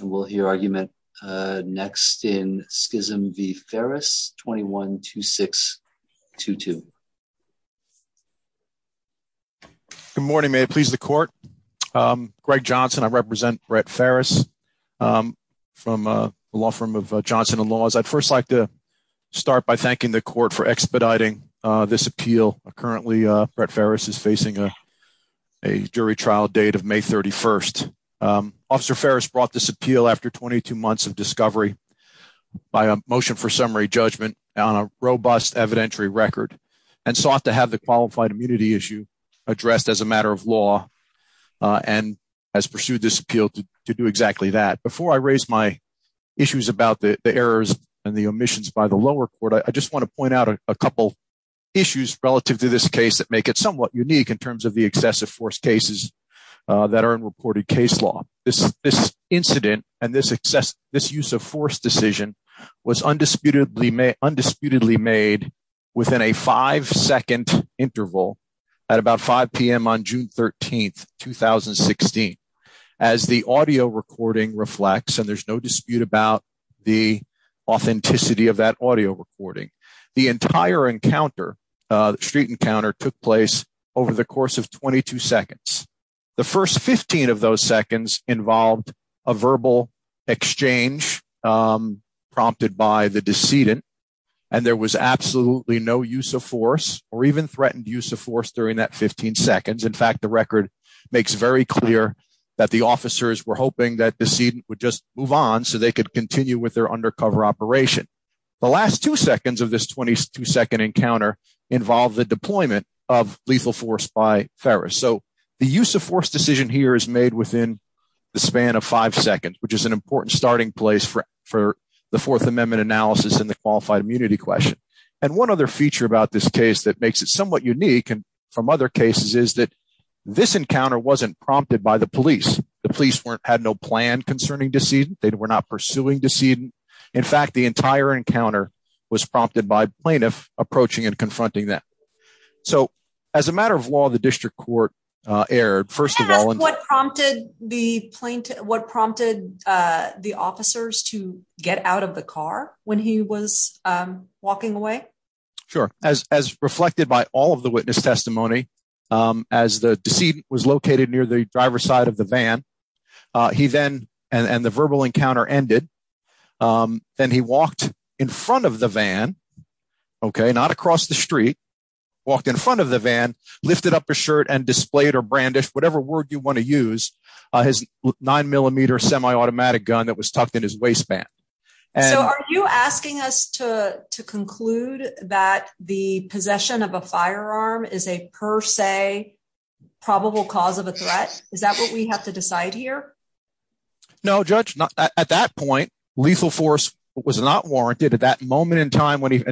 and we'll hear argument next in Schism v. Ferris, 212622. Good morning, may it please the court. Greg Johnson, I represent Brett Ferris from the law firm of Johnson and Laws. I'd first like to start by thanking the court for expediting this appeal. Currently, Brett Ferris is facing a jury trial date of May 31. Officer Ferris brought this appeal after 22 months of discovery by a motion for summary judgment on a robust evidentiary record and sought to have the qualified immunity issue addressed as a matter of law and has pursued this appeal to do exactly that. Before I raise my issues about the errors and the omissions by the lower court, I just want to point out a couple issues relative to this case that make it somewhat unique in terms of the excessive force cases that are in reported case law. This incident and this use of force decision was undisputedly made within a five-second interval at about 5 p.m. on June 13, 2016. As the audio recording reflects and there's no dispute about the authenticity of that audio recording, the entire encounter, the street encounter took place over the course of a verbal exchange prompted by the decedent and there was absolutely no use of force or even threatened use of force during that 15 seconds. In fact, the record makes very clear that the officers were hoping that the decedent would just move on so they could continue with their undercover operation. The last two seconds of this 22-second encounter involved the deployment of lethal force by Ferris. So, the use of force decision here is made within the span of five seconds which is an important starting place for the Fourth Amendment analysis and the qualified immunity question and one other feature about this case that makes it somewhat unique and from other cases is that this encounter wasn't prompted by the police. The police had no plan concerning decedent. They were not pursuing decedent. In fact, the entire encounter was prompted by plaintiff approaching and confronting them. So, as a matter of law, the district court erred. First of all, what prompted the plaintiff, what prompted the officers to get out of the car when he was walking away? Sure. As as reflected by all of the witness testimony, as the decedent was located near the driver's side of the van, he then and and the verbal encounter ended. Then, he walked in front of the van, okay? Not across the street, walked in front of the van, lifted up his shirt and displayed or brandish whatever word you wanna use. Uh his nine-millimeter semi-automatic gun that was tucked in his waistband. So, are you asking us to to conclude that the possession of a firearm is a per se probable cause of a threat? Is that what we have to decide here? No, judge. At that point, lethal force was not warranted at that moment in time when he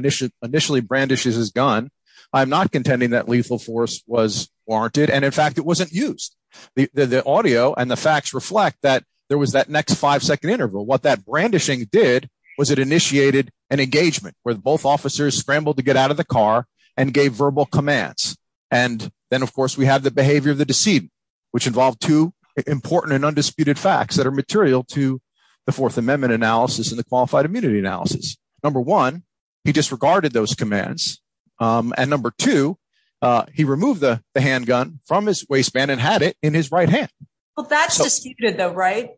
initially brandishes his gun. I'm not intending that lethal force was warranted and in fact, it wasn't used. The the the audio and the facts reflect that there was that next five-second interval. What that brandishing did was it initiated an engagement where both officers scrambled to get out of the car and gave verbal commands and then of course, we have the behavior of the decedent which involved two important and undisputed facts that are material to the Fourth Amendment analysis and the qualified immunity analysis. Number one, he disregarded those commands. Um and number two, uh he removed the the handgun from his waistband and had it in his right hand. Well, that's disputed though, right?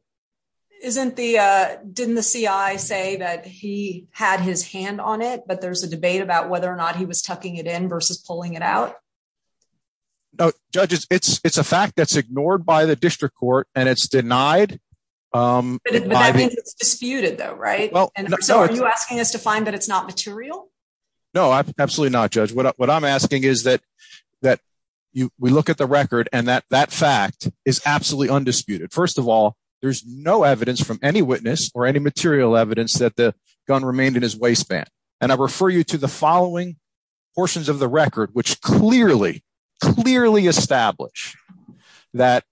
Isn't the uh didn't the CI say that he had his hand on it but there's a debate about whether or not he was tucking it in versus pulling it out? No, judges, it's it's a fact that's ignored by the district court and it's denied. Um. But that means it's disputed though, right? Well, and so are you asking us to find that it's not material? No, I'm absolutely not judge. What I'm asking is that that you we look at the record and that that fact is absolutely undisputed. First of all, there's no evidence from any witness or any material evidence that the gun remained in his waistband and I refer you to the following portions of the record which clearly clearly establish that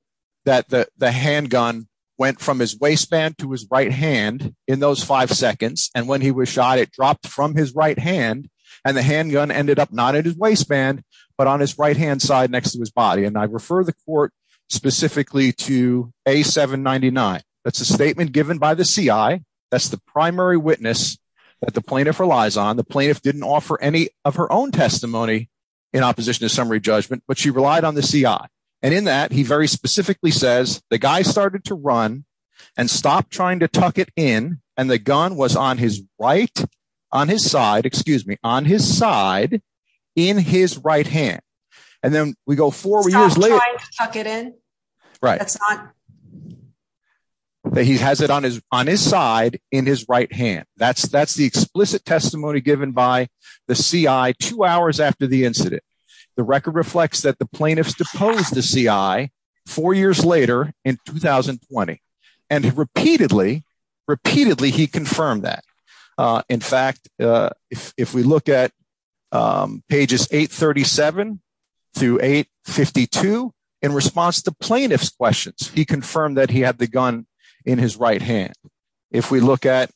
that the the handgun went from his waistband to his right hand in those 5 seconds and when he was shot, it dropped from his right hand and the handgun ended up not in his waistband but on his right hand side next to his body and I refer the court specifically to A799. That's a statement given by the CI. That's the primary witness that the plaintiff relies on. The plaintiff didn't offer any of her own testimony in opposition to summary judgment but she relied on the CI and in that he very specifically says the guy started to run and stop trying to tuck it in and the gun was on his right on his side. Excuse me on his side in his right hand and then we go forward years later tuck it in right. That's not that he has it on his on his side in his right hand. That's that's the explicit testimony given by the CI 2 hours after the incident. The record reflects that the plaintiffs deposed the CI 4 years later in 2020 and he repeatedly he confirmed that. In fact, if we look at pages 837 to 852 in response to plaintiff's questions, he confirmed that he had the gun in his right hand. If we look at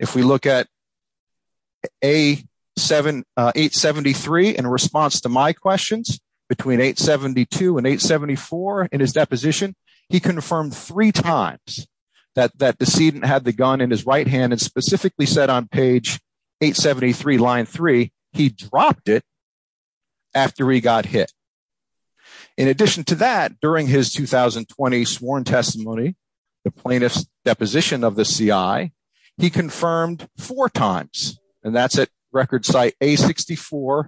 if we look at A7873 in response to my questions between 872 and 874 in his deposition, he confirmed three times that that decedent had the gun in his right hand and specifically said on page 873 line three, he dropped it after he got hit. In addition to that, during his 2020 sworn testimony, the plaintiff's deposition of the CI, he confirmed four times and that's at record site A64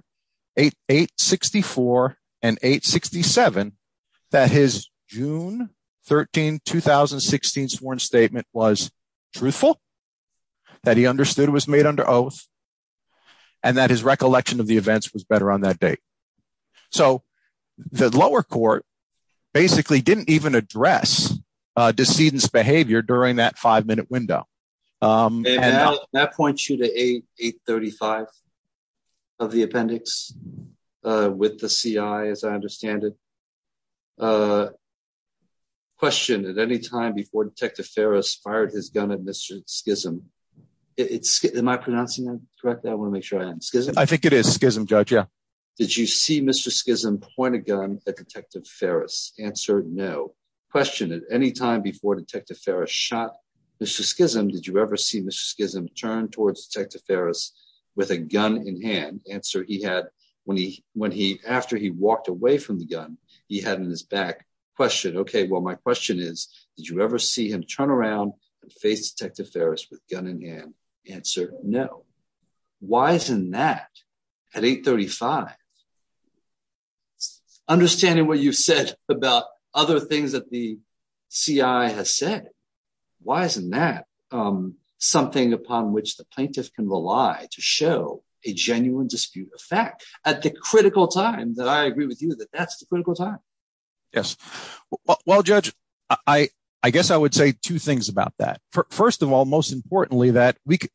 864 and 867 that his June 13 2016 sworn statement was truthful that he understood was made under oath and that his recollection of the events was better on that date. So the lower court basically didn't even address decedent's behavior during that 5 minute window. That points you to A835 of the appendix with the CI as I understand it. Question at any time before detective Ferris fired his gun at mister Schism. It's am I pronouncing that correctly? I wanna make sure I am. I think it is Schism judge. Yeah. Did you see mister Schism point a gun at detective Ferris? Answer no. Question at any time before detective Ferris shot mister Schism. Did you ever see mister Schism turn towards detective Ferris with a when he when he after he walked away from the gun, he had in his back question, okay, well, my question is, did you ever see him turn around and face detective Ferris with gun in hand? Answer no. Why isn't that at 835? Understanding what you've said about other things that the CI has said, why isn't that um something upon which the plaintiff can rely to show a at the critical time that I agree with you that that's the critical time. Yes. Well, judge, I I guess I would say two things about that. First of all, most importantly that we can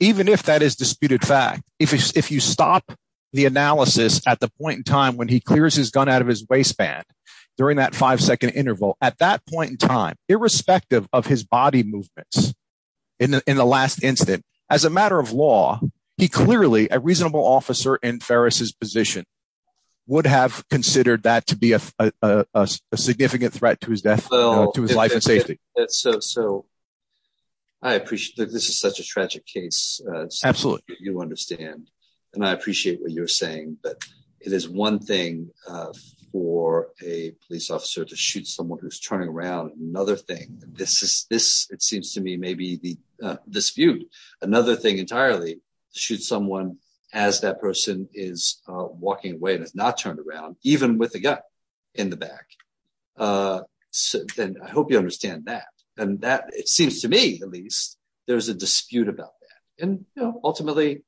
even if that is disputed fact, if if you stop the analysis at the point in time when he clears his gun out of his waistband during that 5 second interval, at that point in time, irrespective of his body movements, in the in the last instant, as a matter of law, he clearly, a reasonable officer in Ferris's position, would have considered that to be a a a significant threat to his death, to his life and safety. So, so, I appreciate that this is such a tragic case. Absolutely. You understand and I appreciate what you're saying but it is one thing uh for a police officer to shoot someone who's turning around. Another thing, this is this, it seems to me, maybe the uh dispute, another thing entirely, shoot someone as that person is uh walking away and it's not turned around even with the gun in the back. Uh so then I hope you understand that and that it seems to me at least there's a dispute about that and you know, ultimately,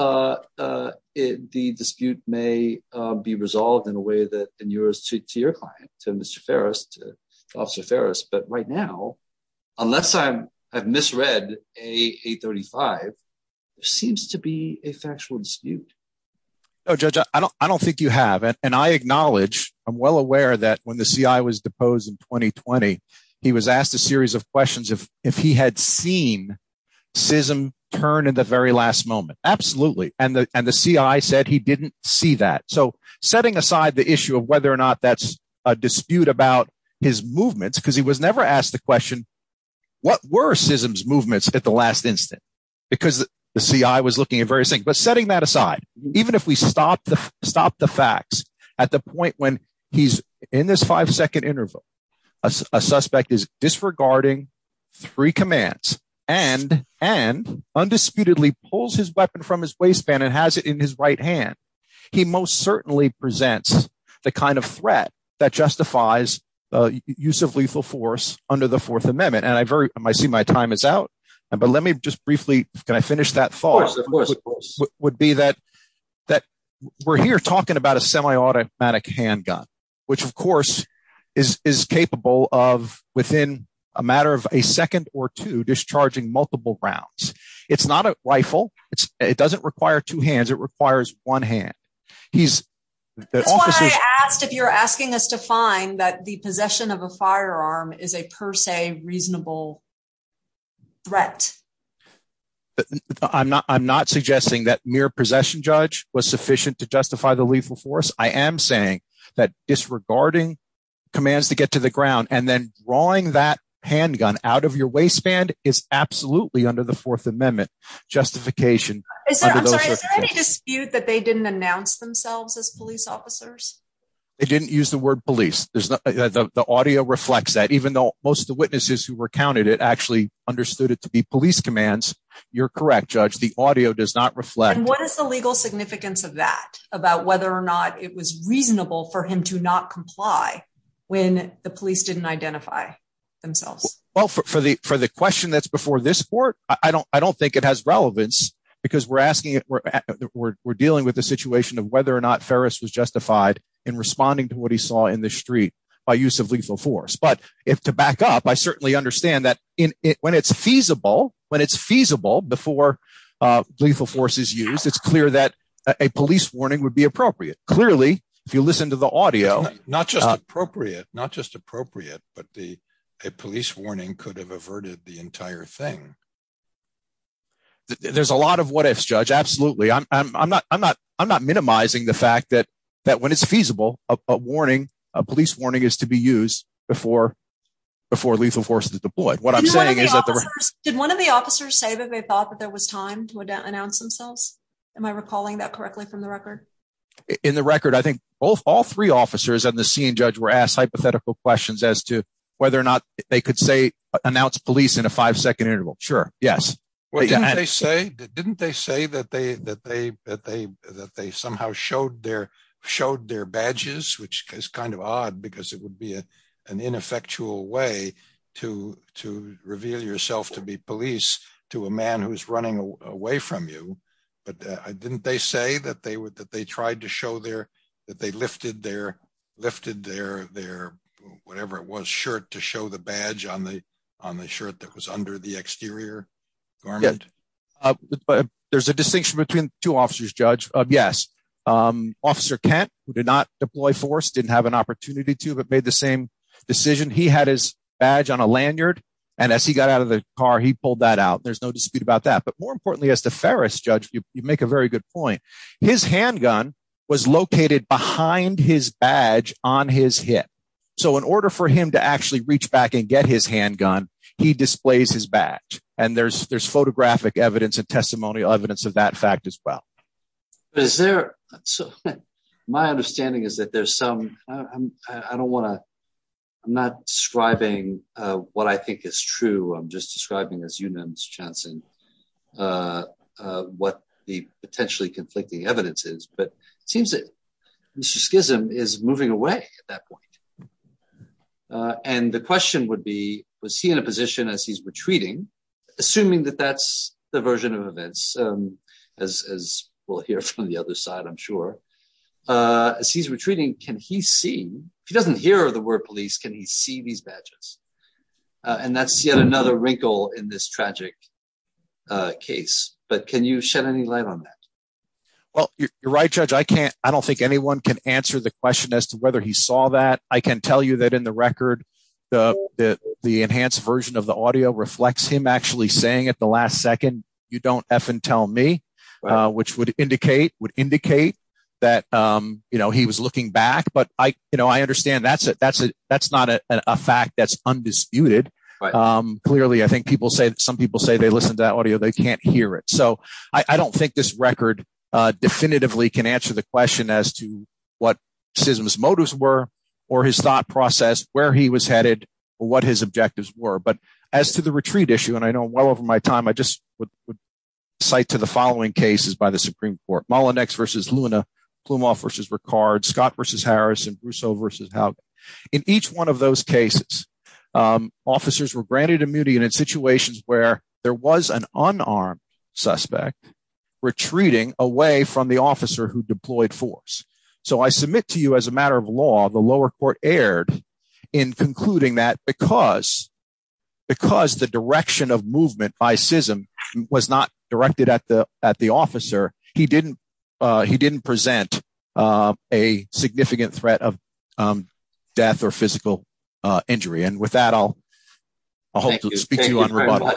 uh uh it the dispute may uh be resolved in a way that in yours to to your client, to mister Ferris, to officer Ferris but right now, unless I'm, I've misread AA35, it seems to be a factual dispute. No, judge, I don't, I don't think you have and I acknowledge, I'm well aware that when the CI was deposed in 2020, he was asked a series of questions of if he had seen schism turn in the very last moment. Absolutely and the and the CI said he didn't see that. So, setting aside the issue of whether or not that's a dispute about his movements because he was never asked the question, what were schisms movements at the last instant? Because the CI was looking at various things but setting that aside, even if we stop the stop the facts at the point when he's in this 5 second interval, a suspect is disregarding three commands and and undisputedly pulls his weapon from his waistband and has it in his right hand. He most certainly presents the kind of threat that justifies uh use of lethal force under the Fourth Amendment and I very, I see my time is out but let me just briefly, can I finish that thought? Of course, of course. Would be that that we're here talking about a semi-automatic handgun which of course is is capable of within a matter of a second or two discharging multiple rounds. It's not a rifle. It's it doesn't require two hands. It requires one hand. He's that's why I asked if you're asking us to find that the possession of a firearm is a per se reasonable threat. I'm not I'm not suggesting that mere possession judge was sufficient to justify the lethal force. I am saying that disregarding commands to get to the ground and then drawing that handgun out of your waistband is absolutely under the Fourth Amendment justification. Is there any dispute that they didn't announce themselves as police officers? They didn't use the word police. There's the the the audio reflects that even though most of the witnesses who recounted it actually understood it to be police commands. You're correct, judge. The audio does not reflect. What is the legal significance of that about whether or not it was reasonable for him to not comply when the police didn't identify themselves? Well, for for the for the question that's before this court, I don't I don't think it has relevance because we're asking it. We're we're dealing with the situation of whether or not Ferris was justified in responding to what he saw in the street by use of lethal force, but if to back up, I certainly understand that in when it's feasible when it's feasible before lethal force is used, it's clear that a police warning would be appropriate. Clearly, if you listen to the audio, not just appropriate, not just appropriate, but the a police warning could have the entire thing. There's a lot of what ifs judge. Absolutely. I'm I'm I'm not I'm not I'm not minimizing the fact that that when it's feasible, a warning, a police warning is to be used before before lethal force is deployed. What I'm saying is that the did one of the officers say that they thought that there was time to announce themselves? Am I recalling that correctly from the record? In the record, I think all all three officers on the scene judge were asked hypothetical questions as to whether or not they could say announce police in a five second interval. Sure. Yes. What did they say? Didn't they say that they that they that they that they somehow showed their showed their badges, which is kind of odd because it would be a an ineffectual way to to reveal yourself to be police to a man who's running away from you, but I didn't they say that they would that they tried to show their that they lifted their lifted their their whatever it was shirt to show the badge on the on the shirt that was under the exterior garment, but there's a distinction between two officers judge. Yes. Officer Kent who did not deploy force didn't have an opportunity to but made the same decision. He had his badge on a lanyard and as he got out of the car, he pulled that out. There's no dispute about that, but more importantly as the Ferris judge, you make a very good point. His handgun was located behind his badge on his hip. So in order for him to actually reach back and get his handgun, he displays his badge and there's there's photographic evidence and testimonial evidence of that fact as well. Is there so my understanding is that there's some I'm I don't wanna I'm not describing what I think is true. I'm just describing as you know what the potentially conflicting evidence is, but it seems that Mr. Schism is moving away at that point and the question would be was he in a position as he's retreating assuming that that's the version of events as as we'll hear from the other side. I'm sure as he's retreating can he see if he doesn't hear the word police can he see these badges and that's yet another wrinkle in this tragic case, but can you shed any light on that? Well, you're you're right judge. I can't. I don't think anyone can answer the question as to whether he saw that I can tell you that in the record the the enhanced version of the audio reflects him actually saying at the last second you don't tell me which would indicate would indicate that you know he was looking back, but I you know I understand that's it. That's it. That's not a fact that's undisputed clearly. I think people say some people say they listen to that audio. They can't hear it. I don't think this record definitively can answer the question as to what SISM's motives were or his thought process where he was headed or what his objectives were, but as to the retreat issue, and I know well over my time, I just would cite to the following cases by the Supreme Court Mullinex versus Luna Plumoff versus Ricard Scott versus Harris and Brousseau versus Haugen. In each one of those cases officers were granted immunity and in situations where there was an unarmed suspect retreating away from the officer who deployed force. So I submit to you as a matter of law, the lower court erred in concluding that because the direction of movement by SISM was not directed at the officer. He didn't present a significant threat of death or physical injury and with that I hope to speak to you on rebuttal.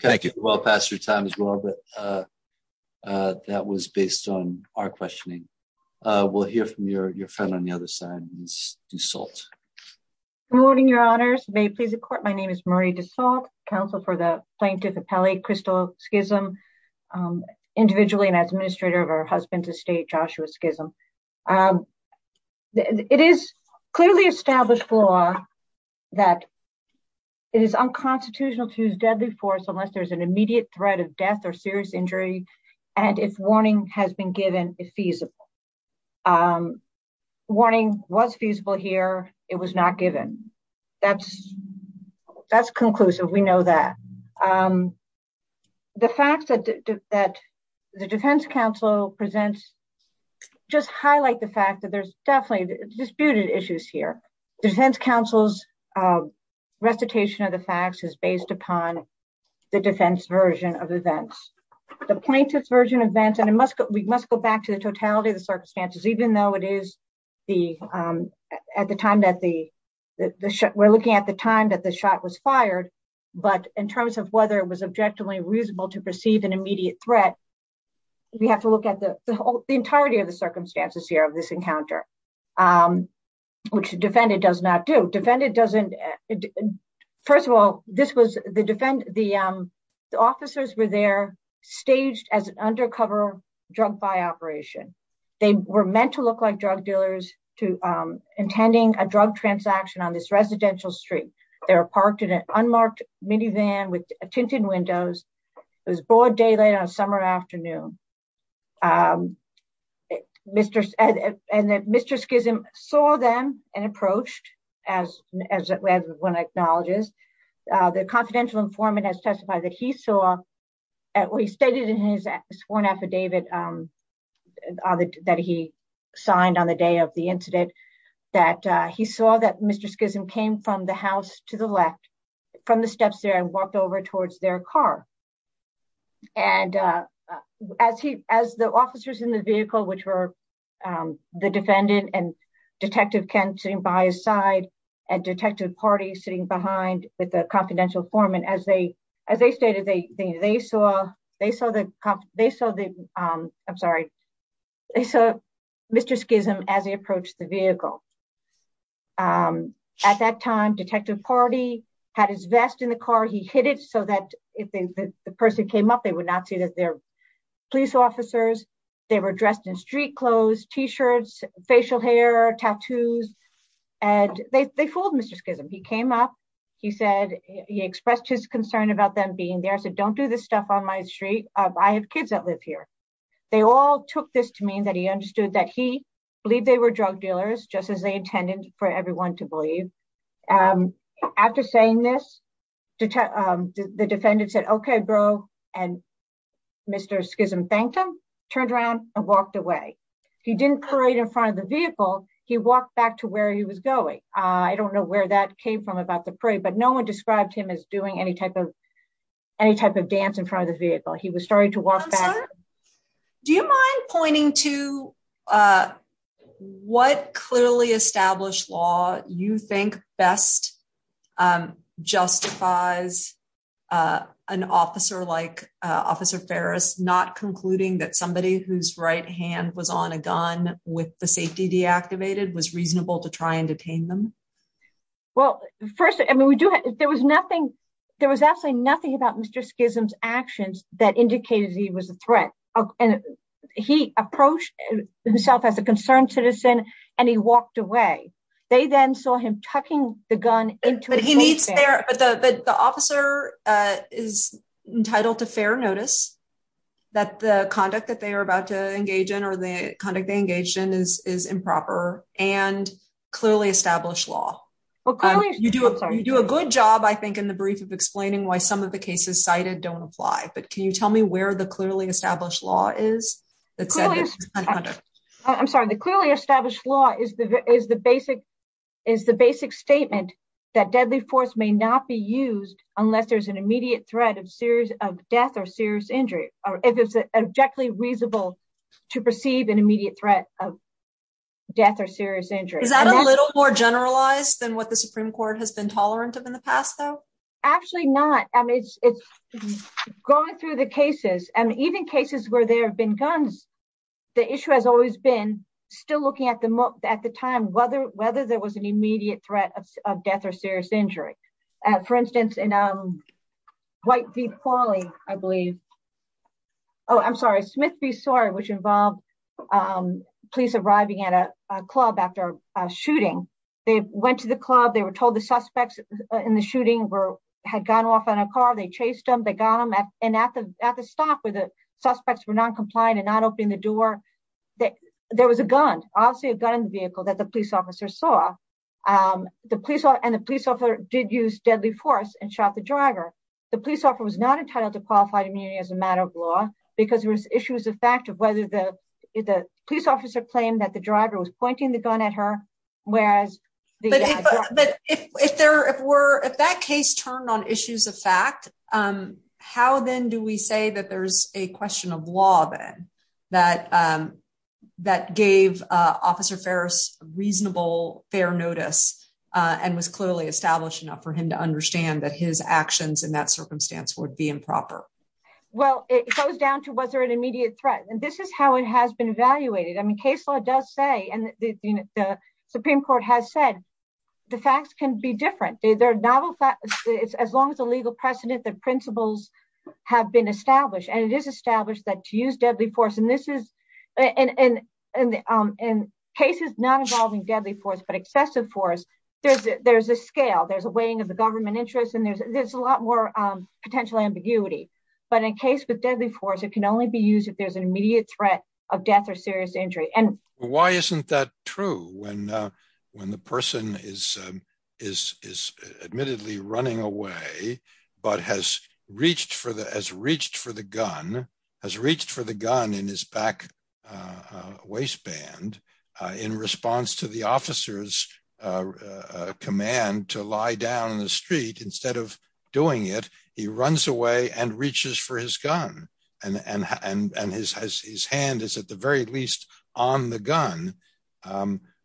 Thank you. We're well past your time as well, but that was based on our questioning. We'll hear from your friend on the other side, Ms. Dessault. Good morning, your honors. May it please the court, my name is Marie Dessault, counsel for the plaintiff appellate Crystal Skism, individually and as administrator of her husband's estate, Joshua Skism. It is clearly established law that it is unconstitutional to use deadly force unless there's an immediate threat of death or serious injury and if warning has been given, it's feasible. Warning was feasible here, it was not given. That's conclusive, we know that. The fact that the defense counsel presents, just highlight the fact that there's definitely disputed issues here. Defense counsel's recitation of the facts is based upon the defense version of events. The plaintiff's version of events, and we must go back to the totality of the circumstances, even though we're looking at the time that the shot was fired, but in terms of whether it was objectively reasonable to perceive an immediate threat, we have to look at the entirety of the circumstances here of this encounter, which the defendant does not do. First of all, the officers were there staged as an undercover drug buy operation. They were meant to look like drug dealers intending a drug transaction on this residential street. They were parked in an unmarked minivan with tinted windows. It was broad daylight on a summer afternoon. Mr. Schism saw them and approached, as one acknowledges, the confidential informant has testified that he saw, or he stated in his sworn affidavit that he signed on the day of the incident, that he saw that Mr. Schism came from the house to the left, from the steps there and walked over towards their car. As the officers in the vehicle, which were the defendant and Detective Kent sitting by his side, and Detective Party sitting behind with the confidential informant, as they stated, they saw Mr. Schism as he approached the vehicle. At that time, Detective Party had his vest in the car. He hid it so that if the person came up, they would not see that they're police officers. They were dressed in street clothes, t-shirts, facial hair, tattoos, and they fooled Mr. Schism. He came up. He said, he expressed his concern about them being there. I said, don't do this stuff on my street. I have kids that live here. They all took this to mean that he understood that he believed they were drug dealers, just as they intended for everyone to believe. After saying this, the defendant said, okay, bro, and Mr. Schism thanked him, turned around and walked away. He didn't parade in front of the vehicle. He walked back to where he was going. I don't know where that came from about the parade, but no one described him as doing any type of dance in front of the vehicle. He was starting to walk back. Do you mind pointing to what clearly established law you think best justifies an officer like Officer Ferris not concluding that somebody whose right hand was on a gun with the safety deactivated was reasonable to try and detain them? Well, first, there was absolutely nothing about Mr. Schism's actions that indicated he was a threat. He approached himself as a concerned citizen, and he walked away. They then saw him tucking the gun into his waistband. But the officer is entitled to fair notice that the conduct that they are about to engage in or the conduct they engaged in is improper and clearly established law. You do a good job, I think, in the brief of explaining why some of the cases cited don't apply, but can you tell me where the clearly established law is? I'm sorry. The clearly established law is the basic is the basic statement that deadly force may not be used unless there's an immediate threat of death or serious injury, or if it's objectively reasonable to perceive an immediate threat of death or serious injury. Is that a little more generalized than what the Supreme Court has been tolerant of in the past, though? Actually not. It's going through the cases and even cases where there have been guns, the issue has always been still at the time, whether there was an immediate threat of death or serious injury. For instance, in White v. Qualley, I believe. Oh, I'm sorry, Smith v. Sawyer, which involved police arriving at a club after a shooting. They went to the club. They were told the suspects in the shooting had gone off in a car. They chased them. They got them. And at the stop where the suspects were noncompliant and not opening the door, there was obviously a gun in the vehicle that the police officer saw. And the police officer did use deadly force and shot the driver. The police officer was not entitled to qualified immunity as a matter of law because there was issues of fact of whether the police officer claimed that the driver was pointing the gun at her, whereas the driver- But if that case turned on issues of fact, how then do we that there's a question of law then that gave Officer Ferris reasonable, fair notice and was clearly established enough for him to understand that his actions in that circumstance would be improper? Well, it goes down to was there an immediate threat? And this is how it has been evaluated. I mean, case law does say, and the Supreme Court has said, the facts can be different. There are novel facts. As long as the precedent, the principles have been established, and it is established that to use deadly force, and this is in cases not involving deadly force, but excessive force, there's a scale, there's a weighing of the government interest, and there's a lot more potential ambiguity. But in case with deadly force, it can only be used if there's an immediate threat of death or serious injury. And- Why isn't that true? When the person is admittedly running away, but has reached for the, has reached for the gun, has reached for the gun in his back waistband, in response to the officer's command to lie down in the street, instead of doing it, he runs away and reaches for his gun, and his hand is at the very least, on the gun.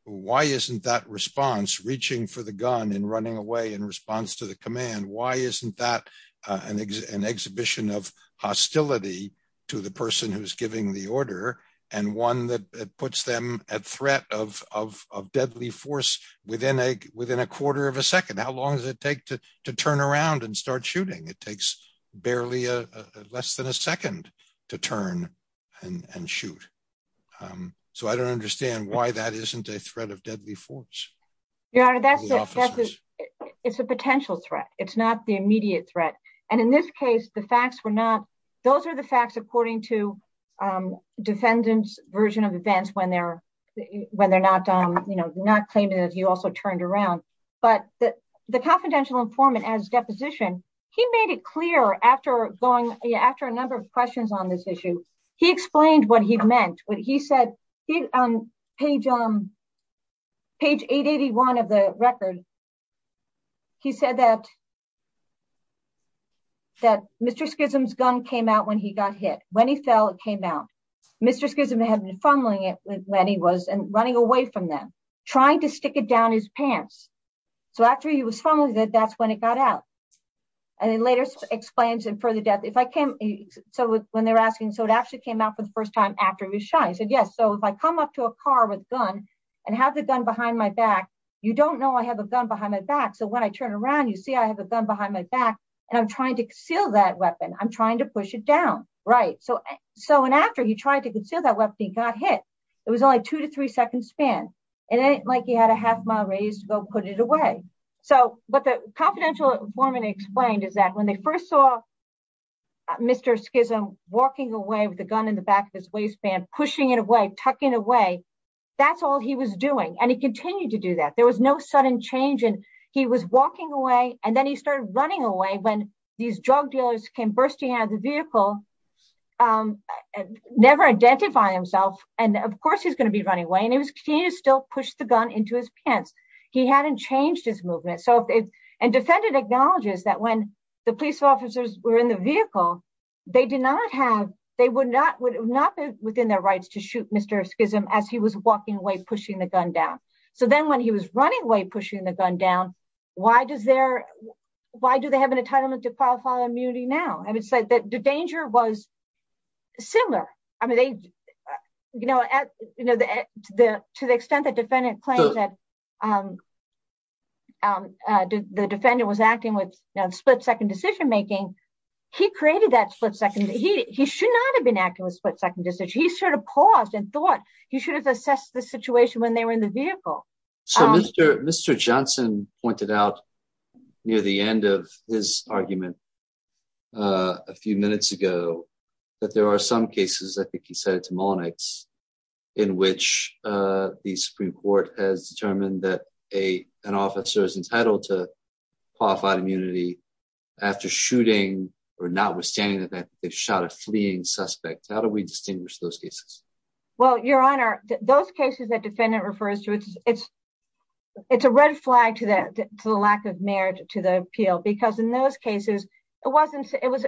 Why isn't that response, reaching for the gun and running away in response to the command, why isn't that an exhibition of hostility to the person who's giving the order, and one that puts them at threat of deadly force within a quarter of a second? How long does it take to turn around and start shooting? It takes barely less than a second to turn and shoot. So I don't understand why that isn't a threat of deadly force. Your Honor, that's a, it's a potential threat. It's not the immediate threat. And in this case, the facts were not, those are the facts according to defendant's version of events when they're, when they're not, you know, not claiming that he also turned around. But the confidential informant as deposition, he made it clear after going, after a number of questions on this issue, he explained what he meant when he said, he, on page, page 881 of the record, he said that, that Mr. Schism's gun came out when he got hit. When he fell, it came out. Mr. Schism had been funneling it when he was, and running away from them, trying to stick it down his pants. So after he was funneling it, that's when it got out. And he later explains in further depth, if I came, so when they're asking, so it actually came out for the first time after he was so if I come up to a car with gun and have the gun behind my back, you don't know I have a gun behind my back. So when I turn around, you see, I have a gun behind my back, and I'm trying to conceal that weapon. I'm trying to push it down. Right. So, so, and after he tried to conceal that weapon, he got hit. It was only two to three seconds span. It ain't like he had a half mile radius to go put it away. So what the confidential informant explained is that when they first saw Mr. Schism walking away with the gun in the back of his tucking away, that's all he was doing. And he continued to do that. There was no sudden change. And he was walking away. And then he started running away when these drug dealers came bursting out of the vehicle, never identify himself. And of course, he's going to be running away. And he was keen to still push the gun into his pants. He hadn't changed his movement. So and defended acknowledges that when the police officers were in the vehicle, they did not have, they would not would not be their rights to shoot Mr. Schism as he was walking away, pushing the gun down. So then when he was running away, pushing the gun down, why does there, why do they have an entitlement to qualify immunity now? I would say that the danger was similar. I mean, they, you know, at the, to the extent that defendant claims that the defendant was acting with split second decision making, he created that split second. He, he should not have been acting with split second decision. He sort of paused and thought he should have assessed the situation when they were in the vehicle. So Mr. Mr. Johnson pointed out near the end of his argument a few minutes ago, that there are some cases, I think he said it to Mullenix, in which the Supreme Court has determined that a, an officer is entitled to qualified immunity after shooting or not withstanding that they've shot a fleeing suspect. How do we distinguish those cases? Well, Your Honor, those cases that defendant refers to, it's, it's, it's a red flag to the, to the lack of merit to the appeal, because in those cases, it wasn't, it was,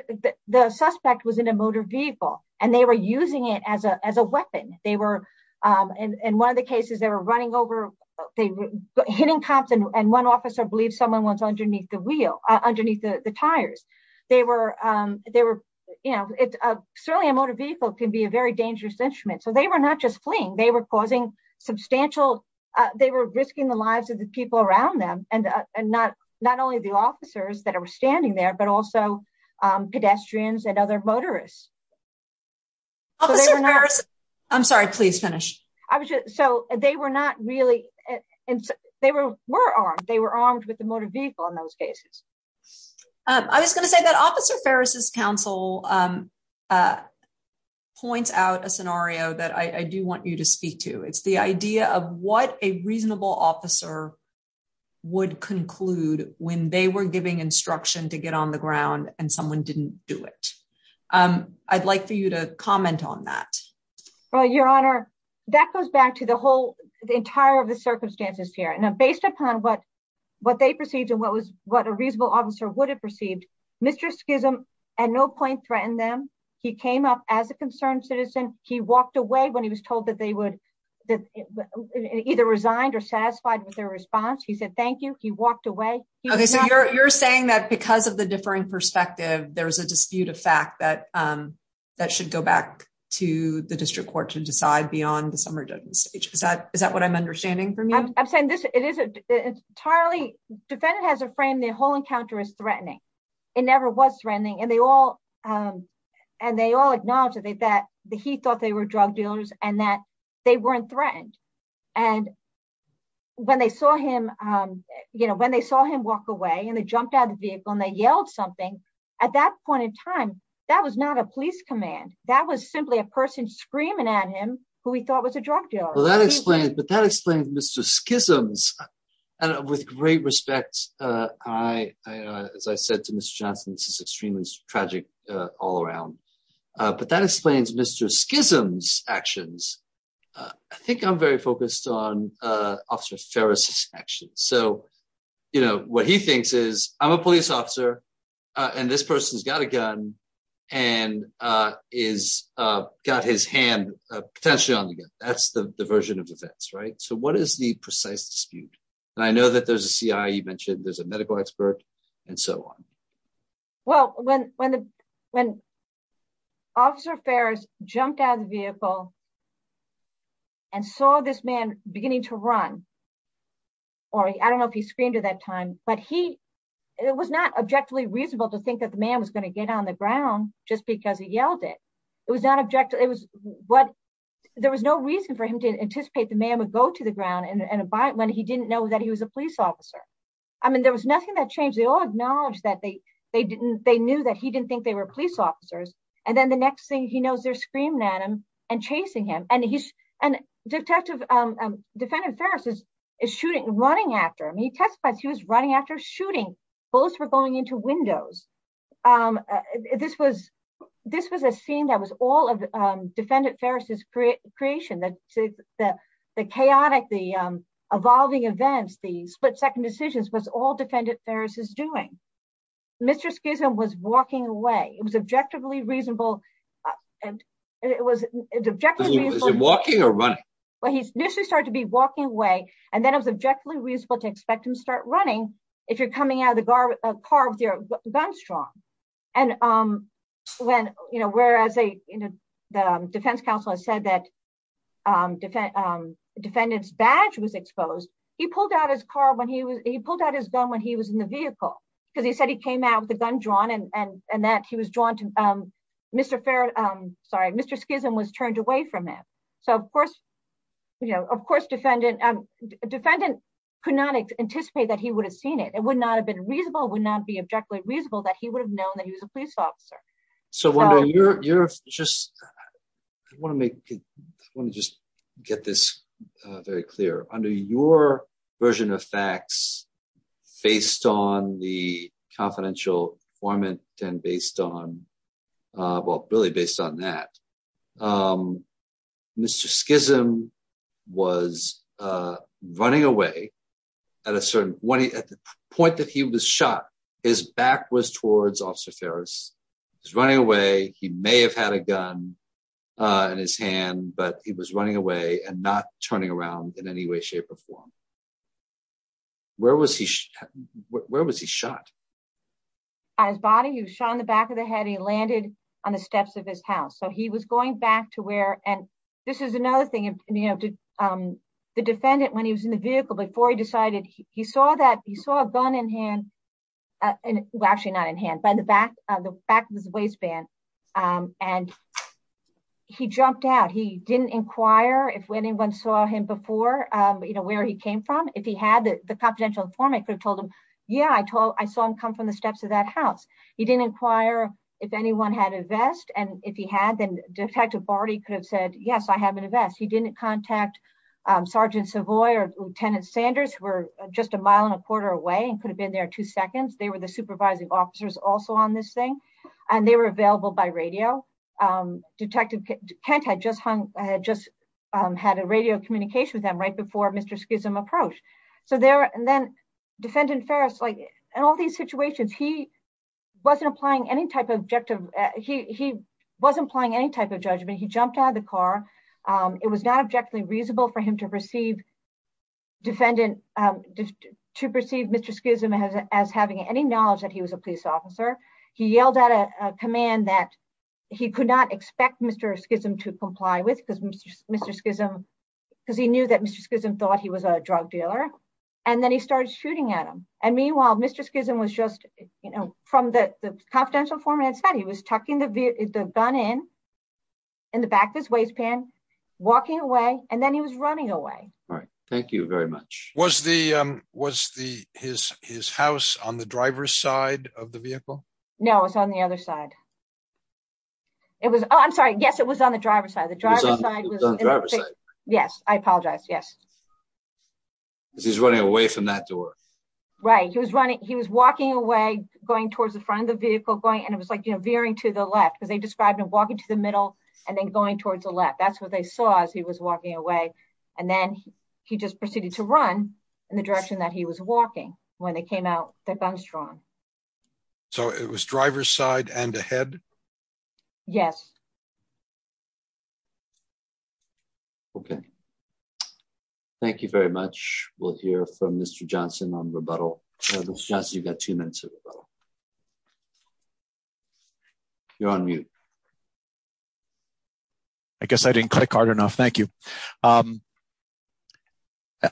the suspect was in a motor vehicle and they were using it as a, as a weapon. They were, in one of the cases, they were running over, they were hitting cops and one officer believed someone was underneath the wheel, underneath the tires. They were, they were, you know, it's certainly a motor vehicle can be a very dangerous instrument. So they were not just fleeing, they were causing substantial, they were risking the lives of the people around them and, and not, not only the officers that are standing there, but also pedestrians and other motorists. Officer Ferris, I'm sorry, please finish. I was just, so they were not really, and they were, were armed, they were armed with the motor vehicle in those cases. I was going to say that Officer Ferris's counsel points out a scenario that I do want you to speak to. It's the idea of what a reasonable officer would conclude when they were giving instruction to get on the ground and someone didn't do it. I'd like for you to comment on that. Well, Your Honor, that goes back to the whole, the entire of the circumstances here. Now, based upon what, what they perceived and what was, what a reasonable officer would have perceived, Mr. Schism at no point threatened them. He came up as a concerned citizen. He walked away when he was told that they would either resigned or satisfied with their response. He said, thank you. He walked away. Okay. So you're, you're saying that because of the differing perspective, there was a dispute of fact that, that should go back to the district court to decide beyond the summary judgment stage. Is that, is that what I'm understanding for I'm saying this, it is entirely defendant has a frame. The whole encounter is threatening. It never was threatening and they all, um, and they all acknowledge that they, that he thought they were drug dealers and that they weren't threatened. And when they saw him, um, you know, when they saw him walk away and they jumped out of the vehicle and they yelled something at that point in time, that was not a police command. That was simply a person screaming at him who he thought was a drug dealer. That explains, but that explains Mr. Schism's and with great respect, uh, I, uh, as I said to Mr. Johnson, this is extremely tragic, uh, all around, uh, but that explains Mr. Schism's actions. Uh, I think I'm very focused on, uh, officer Ferris action. So, you know, what he thinks is I'm a police officer, uh, and this person's got a gun and, uh, is, uh, got his hand, uh, potentially on the gun. That's the version of defense, right? So what is the precise dispute? And I know that there's a CI, you mentioned there's a medical expert and so on. Well, when, when the, when officer Ferris jumped out of the vehicle and saw this man beginning to run, or I don't know if he screamed at that time, but he, it was not objectively reasonable to think that the man was going to get on the ground just because he yelled it. It was not objective. There was no reason for him to anticipate the man would go to the ground and abide when he didn't know that he was a police officer. I mean, there was nothing that changed. They all acknowledged that they, they didn't, they knew that he didn't think they were police officers. And then the next thing he knows they're screaming at him and chasing him. And he's an detective, um, um, defendant Ferris is, is shooting and running after him. He testified he was running after shooting. Bullets were going into windows. Um, uh, this was, this was a scene that was all of, um, defendant Ferris's creation, the, the, the chaotic, the, um, evolving events, the split second decisions was all defendant Ferris is doing. Mr. Schism was walking away. It was objectively reasonable. And it was objectively walking or running. Well, he's initially started to be walking away and then it was objectively reasonable to expect him to start running. If you're coming out of the car, uh, carved your gun strong. And, um, when, you know, whereas they, you know, the defense counsel has said that, um, defend, um, defendant's badge was exposed. He pulled out his car when he was, he pulled out his gun when he was in the vehicle, because he said he came out with the gun drawn and, and, and that he was drawn to, um, Mr. Ferret, um, sorry, Mr. Schism was turned away from him. So of course, you know, of course, defendant, um, defendant could not anticipate that he would have seen it. It would not have been reasonable, would not be objectively reasonable that he would have known that he was a police officer. So you're just, I want to make, I want to just get this very clear under your version of facts based on the confidential formant and based on, uh, well, really based on that, um, Mr. Schism was, uh, running away at a certain point that he was shot. His back was towards officer Ferris. He's running away. He may have had a gun, uh, in his hand, but he was running away and not turning around in any way, shape or form. Where was he? Where was he shot? On his body. He was shot in the back of the head. He landed on the steps of his house. So he was going back to where, and this is another thing, you know, um, the defendant, when he was in the vehicle before he decided he saw that he saw a gun in hand, uh, well, actually not in hand by the back of the back of his waistband. Um, and he jumped out. He didn't inquire if when anyone saw him before, um, you know, where he came from, if he had the confidential form, I could have told him, yeah, I told, I saw him come from the steps of that house. He didn't inquire if anyone had a vest. And if he had, then detective Barty could have said, yes, I have an invest. He didn't contact, um, Sergeant Savoy or Lieutenant Sanders were just a mile and a quarter away and could have been there two seconds. They were the supervising officers also on this thing. And they were available by radio. Um, detective Kent had just hung, had just, um, had a radio communication with them right before Mr. Schism approach. So there, and then defendant Ferris, like in all these situations, he wasn't applying any type of objective. He, he wasn't applying any type of judgment. He jumped out of the car. Um, it was not objectively reasonable for him to receive defendant, um, to perceive Mr. Schism as, as having any knowledge that he was a police officer. He yelled out a command that he could not expect Mr. Schism to comply with because Mr. Schism, because he knew that Mr. Schism thought he was a drug dealer. And then he started shooting at him. And meanwhile, Mr. Schism was just, you know, from the, the confidential format said he was talking to the gun in, in the back of his waistband, walking away. And then he was running away. All right. Thank you very much. Was the, um, was the, his, his house on the driver's side of the vehicle? No, it was on the other side. It was, oh, I'm sorry. Yes. It was on the driver's side. The driver's side was on the driver's side. Yes. I apologize. Yes. Because he's running away from that door. Right. He was running. He was walking away, going towards the front of the vehicle going and it was like, you know, veering to the left because they described him walking to the middle and then going towards the left. That's what they saw as he was walking away. And then he just proceeded to run in the direction that he was walking when they came out the gun strong. So it was driver's side and ahead. Yes. Okay. Thank you very much. We'll hear from Mr. Johnson on rebuttal. Mr. Johnson, you've you're on mute. I guess I didn't click hard enough. Thank you. Um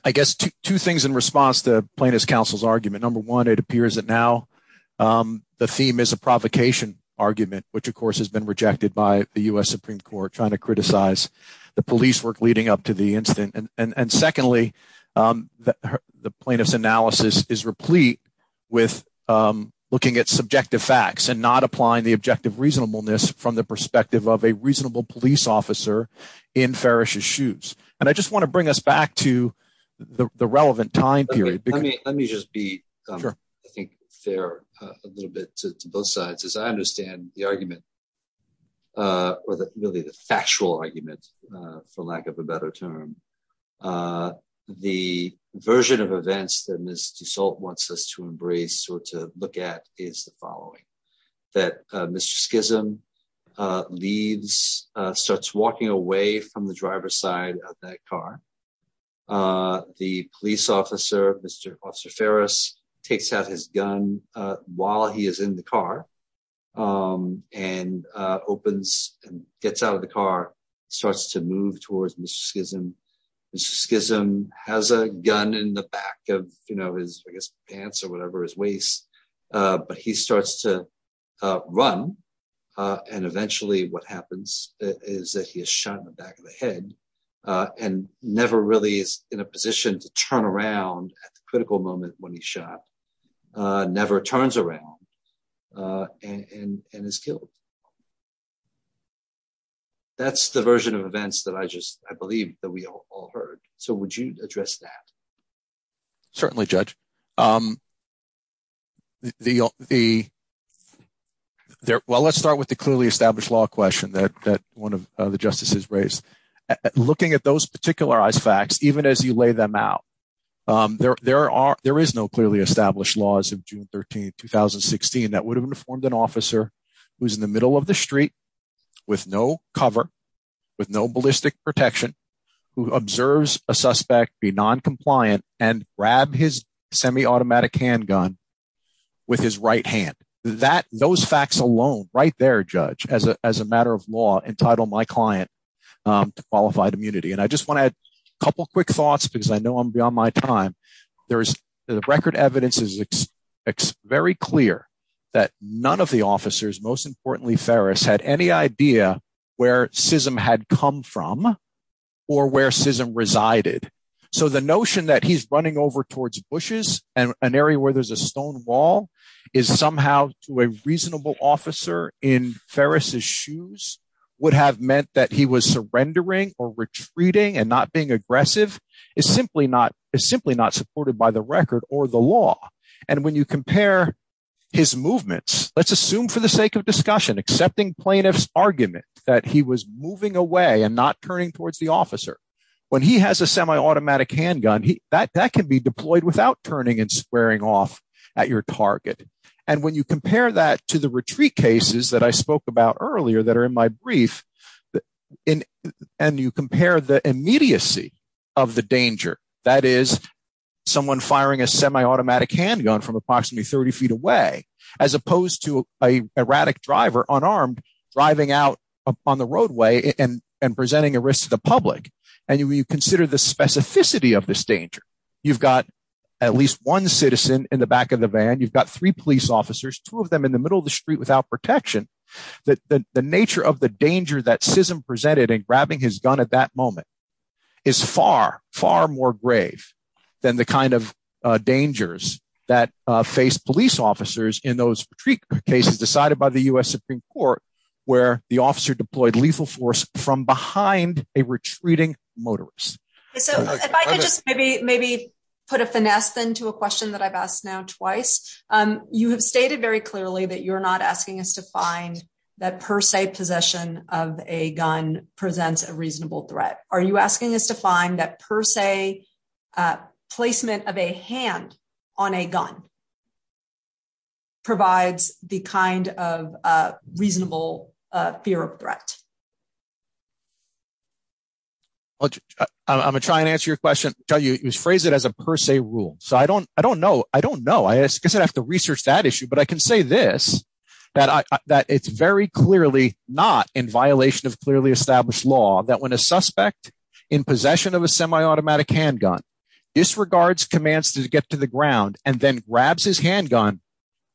I guess two things in response to plaintiff's counsel's argument. Number one, it appears that now, um the theme is a provocation argument which of course has been rejected by the US Supreme Court trying to criticize the police work leading up to the incident and and and secondly, um the plaintiff's analysis is replete with um looking at subjective facts and not applying the objective reasonableness from the perspective of a reasonable police officer in Ferris's shoes and I just want to bring us back to the the relevant time period. Let me let me just be sure. I think they're a little bit to to both sides as I understand the argument uh or the really the factual argument uh for lack of a better term. Uh the version of events that assault wants us to embrace or to look at is the following that uh Mr. Schism uh leaves uh starts walking away from the driver's side of that car. Uh the police officer, Mr. Officer Ferris takes out his gun uh while he is in the car um and uh opens and gets out of the car, starts to move towards Mr. Schism. Mr. Schism has a gun in the back of you know his I guess pants or whatever his waist uh but he starts to uh run uh and eventually what happens is that he is shot in the back of the head uh and never really is in a position to turn around at the critical moment when he shot uh never turns around uh and and is killed. That's the version of events that I just I believe that we all heard. So, would judge um the the well, let's start with the clearly established law question that that one of the justices raised looking at those particularized facts even as you lay them out um there there are there is no clearly established laws of June 13th 2016 that would have informed an officer who's in the middle of the street with no cover with no ballistic protection who observes a suspect be noncompliant and grab his semi-automatic handgun with his right hand that those facts alone right there judge as a as a matter of law entitle my client um to qualified immunity and I just want to add a couple quick thoughts because I know I'm beyond my time. There's the record evidence is very clear that none of the officers most importantly Ferris had any idea where Sism had come from or where Sism resided. So, the notion that he's running over towards bushes and an area where there's a stone wall is somehow to a reasonable officer in Ferris's shoes would have meant that he was surrendering or retreating and not being aggressive is simply not is simply not supported by the record or the law and when you compare his movements, let's assume for the sake of discussion accepting plaintiff's argument that he was moving away and not turning towards the officer when he has a semi-automatic handgun, he that can be deployed without turning and squaring off at your target and when you compare that to the retreat cases that I spoke about earlier that are in my brief in and you compare the immediacy of the danger that is someone firing a semi-automatic handgun from approximately 30 feet away as opposed to a erratic driver unarmed driving out on the roadway and and presenting a risk to the public and you consider the specificity of this danger. You've got at least one citizen in the back of the van. You've got three police officers, two of them in the middle of the street without protection that the nature of the danger that Sism presented in grabbing his gun at that moment is far far more grave than the kind of dangers that face police officers in those cases decided by the US Supreme Court where the officer deployed lethal force from behind a retreating motorist. So if I could just maybe maybe put a finesse then to a question that I've asked now twice you have stated very clearly that you're not asking us to find that per se possession of a gun presents a reasonable threat. Are you asking us to find that per se placement of a hand on a gun? Provides the kind of reasonable fear of threat. I'm going to try and answer your question. I'll tell you it was phrased it as a per se rule. So I don't I don't know. I don't know. I guess I'd have to research that issue, but I can say this that that it's very clearly not in violation of clearly established law that when a suspect in possession of a semi-automatic handgun disregards commands to get to the ground and then grabs his handgun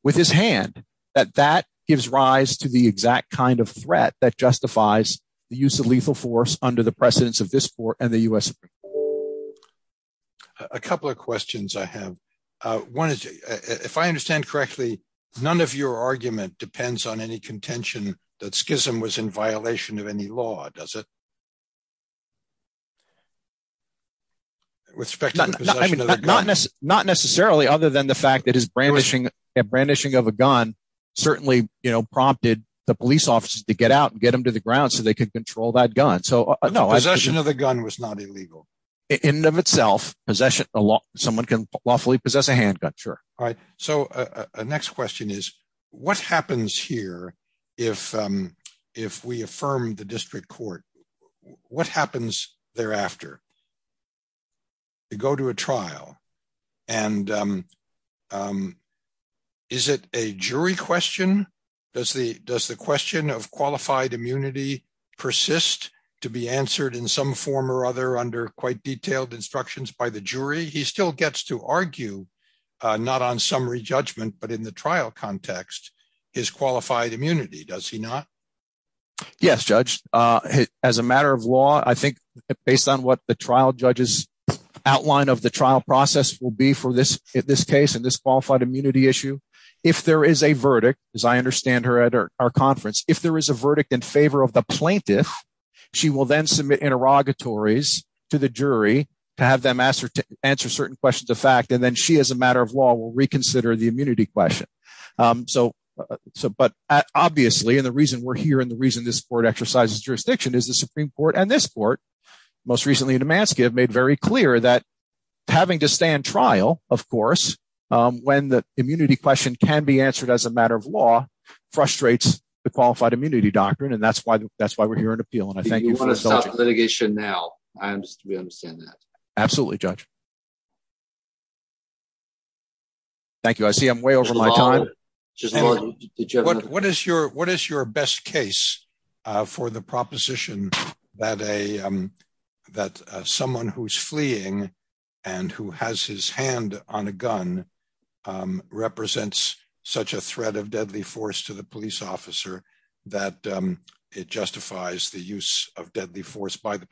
with his hand that that gives rise to the exact kind of threat that justifies the use of lethal force under the precedence of this court and the US Supreme Court. A couple of questions I have one is if I understand correctly, none of your argument depends on any contention that Schism was in violation of any law does it? With respect to the possession of the gun. Not necessarily other than the fact that his brandishing of a gun certainly prompted the police officers to get out and get him to the ground so they could control that gun. So no. Possession of the gun was not illegal. In of itself possession someone can lawfully possess a handgun. Sure. Alright. So the next question is what happens here if we affirm the district court? What happens thereafter? To go to a trial and is it a jury question? Does the does the question of qualified immunity persist to be answered in some form or other under quite detailed instructions by the jury? He still gets to argue not on summary judgment, but in the Yes, judge as a matter of law, I think based on what the trial judges outline of the trial process will be for this in this case in this qualified immunity issue. If there is a verdict as I understand her at our conference, if there is a verdict in favor of the plaintiff, she will then submit interrogatories to the jury to have them answer certain questions of fact and then she has a matter of law will reconsider the immunity question. so so but obviously and the reason we're here and the reason this court exercises jurisdiction is the Supreme Court and this court most recently in Damascus made very clear that having to stand trial. Of course, when the immunity question can be answered as a matter of law frustrates the qualified immunity doctrine and that's why that's why we're here in appeal and I thank you for the litigation now. I'm just we understand that absolutely judge. Thank you. I see I'm way over my time. What is your what is your best case for the proposition that a that someone who's fleeing and who has his hand on a gun represents such a threat of deadly force to the police officer that it justifies the use of deadly force by the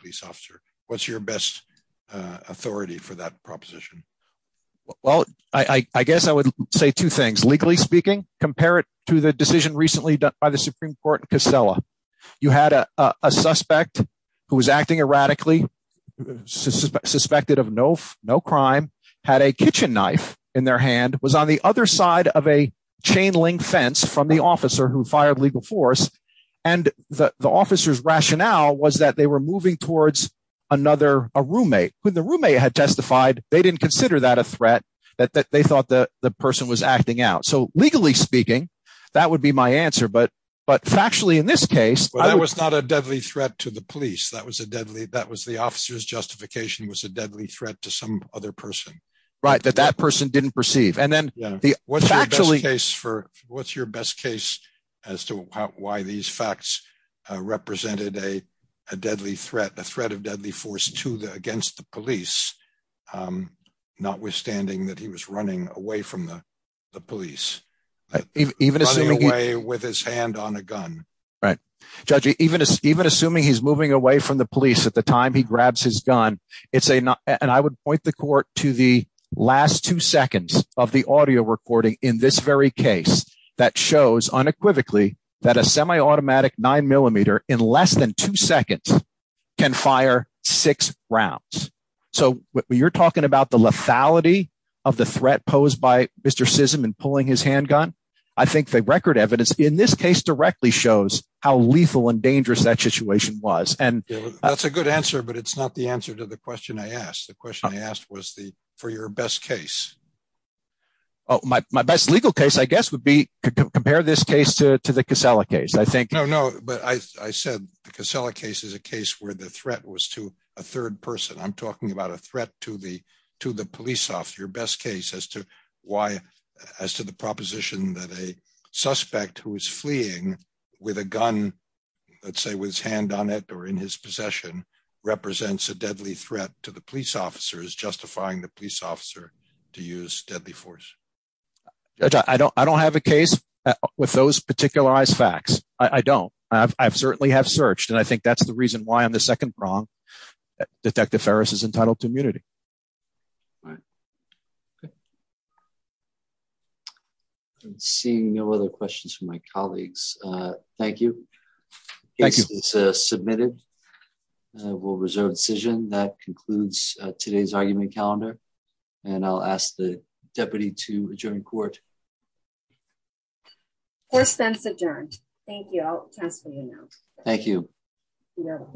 Well, I I guess I would say two things legally speaking compare it to the decision recently done by the Supreme Court. You had a a suspect who was acting erratically suspected of no no crime had a kitchen knife in their hand was on the other side of a chain link fence from the officer who fired legal force and the the officer's rationale was that they were moving towards another a roommate when the roommate had testified, they didn't consider that a threat that that they thought that the person was acting out. So legally speaking, that would be my answer but but factually in this case, that was not a deadly threat to the police. That was a deadly. That was the officer's justification was a deadly threat to some other person right that that person didn't perceive and then the what's your best case for what's your best case as to why these facts represented a a deadly threat, a threat of deadly force to the against the police. Notwithstanding that he was running away from the the police even even away with his hand on a gun right judge even even assuming he's moving away from the police at the time he grabs his gun. It's a and I would point the court to the last 2 seconds of the audio recording in this very case that shows unequivocally that a semi-automatic 9 millimeter in less than 2 seconds can fire six rounds. So you're talking about the lethality of the threat posed by mister SISM and pulling his handgun. I think the record evidence in this case directly shows how lethal and dangerous that situation was and that's a good answer, but it's not the answer to the question. I asked the question I asked was the for your best case. Oh my my best legal case, I guess would be compare this case to to the case. I think no no, but I I said the case is a case where the threat was to a third person. I'm talking about a threat to the to the police officer your best case as to why as to the proposition that a suspect who is fleeing with a gun. Let's say with his hand on it or in his possession represents a deadly threat to the police officers justifying the police officer to use deadly force. I don't I don't have a case with those Particularized facts. II don't I've I've certainly have searched and I think that's the reason why I'm the second prong that detective Ferris is entitled to immunity. I'm seeing no other questions from my colleagues. Thank you. Thank you. It's submitted. We'll reserve decision that concludes today's argument calendar and I'll ask the adjourned. Thank you. I'll ask for you now.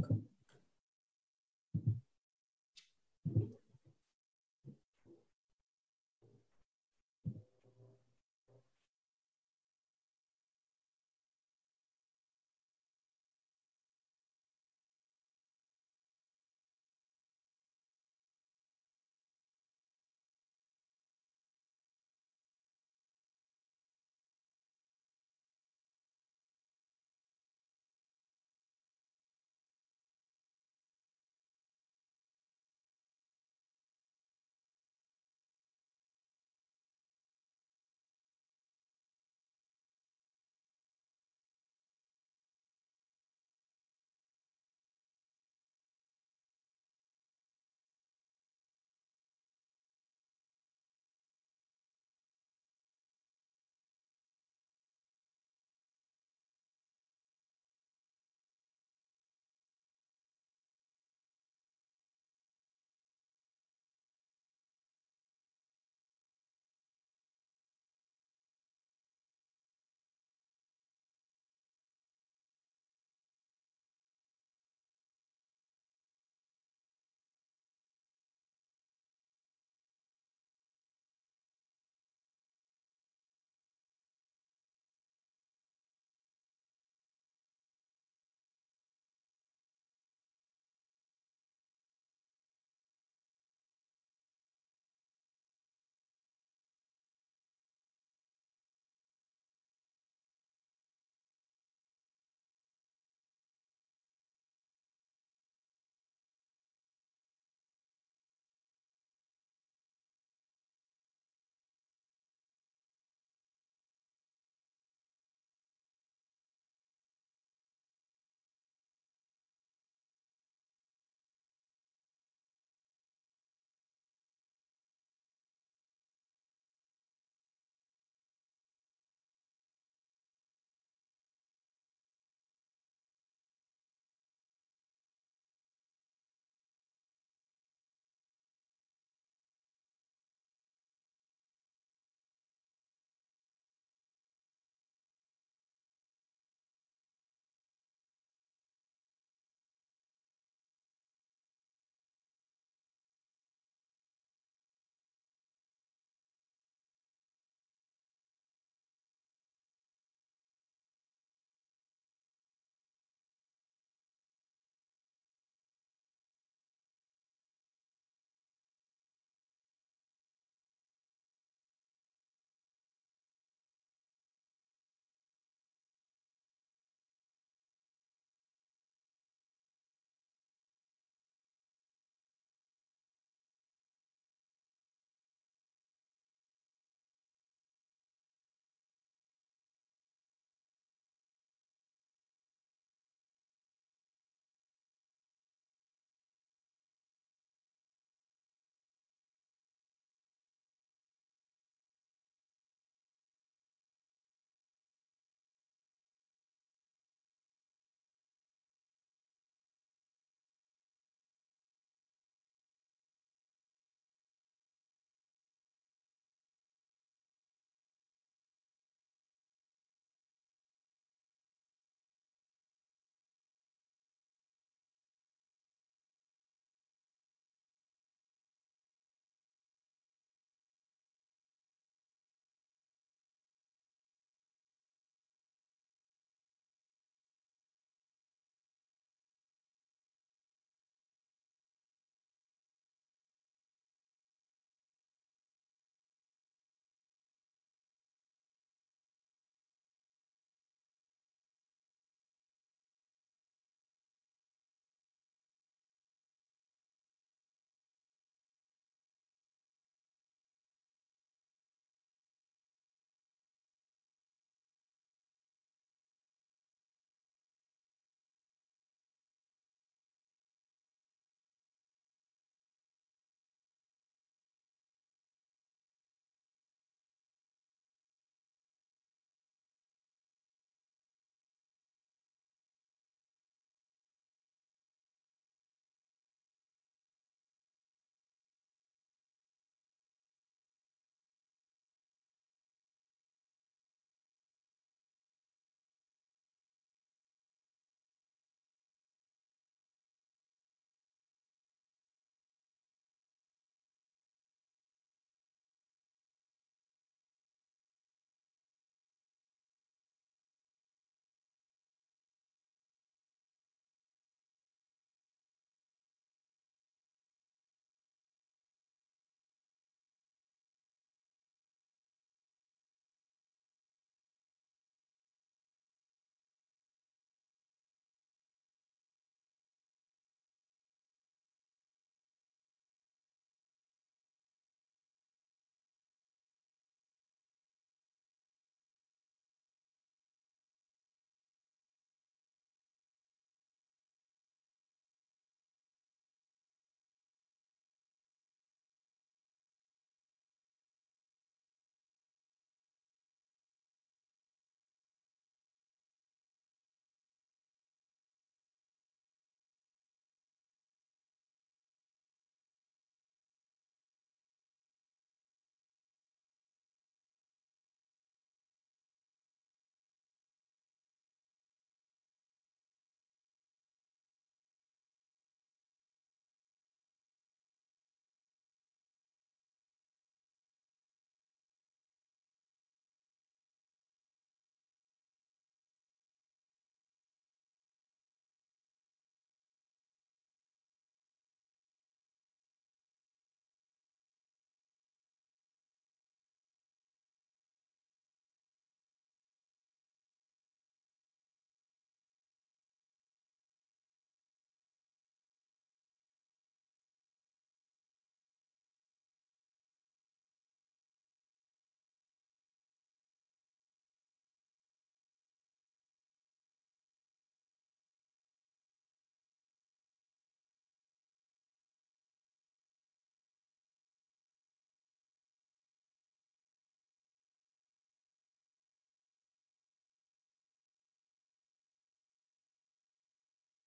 Thank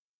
you.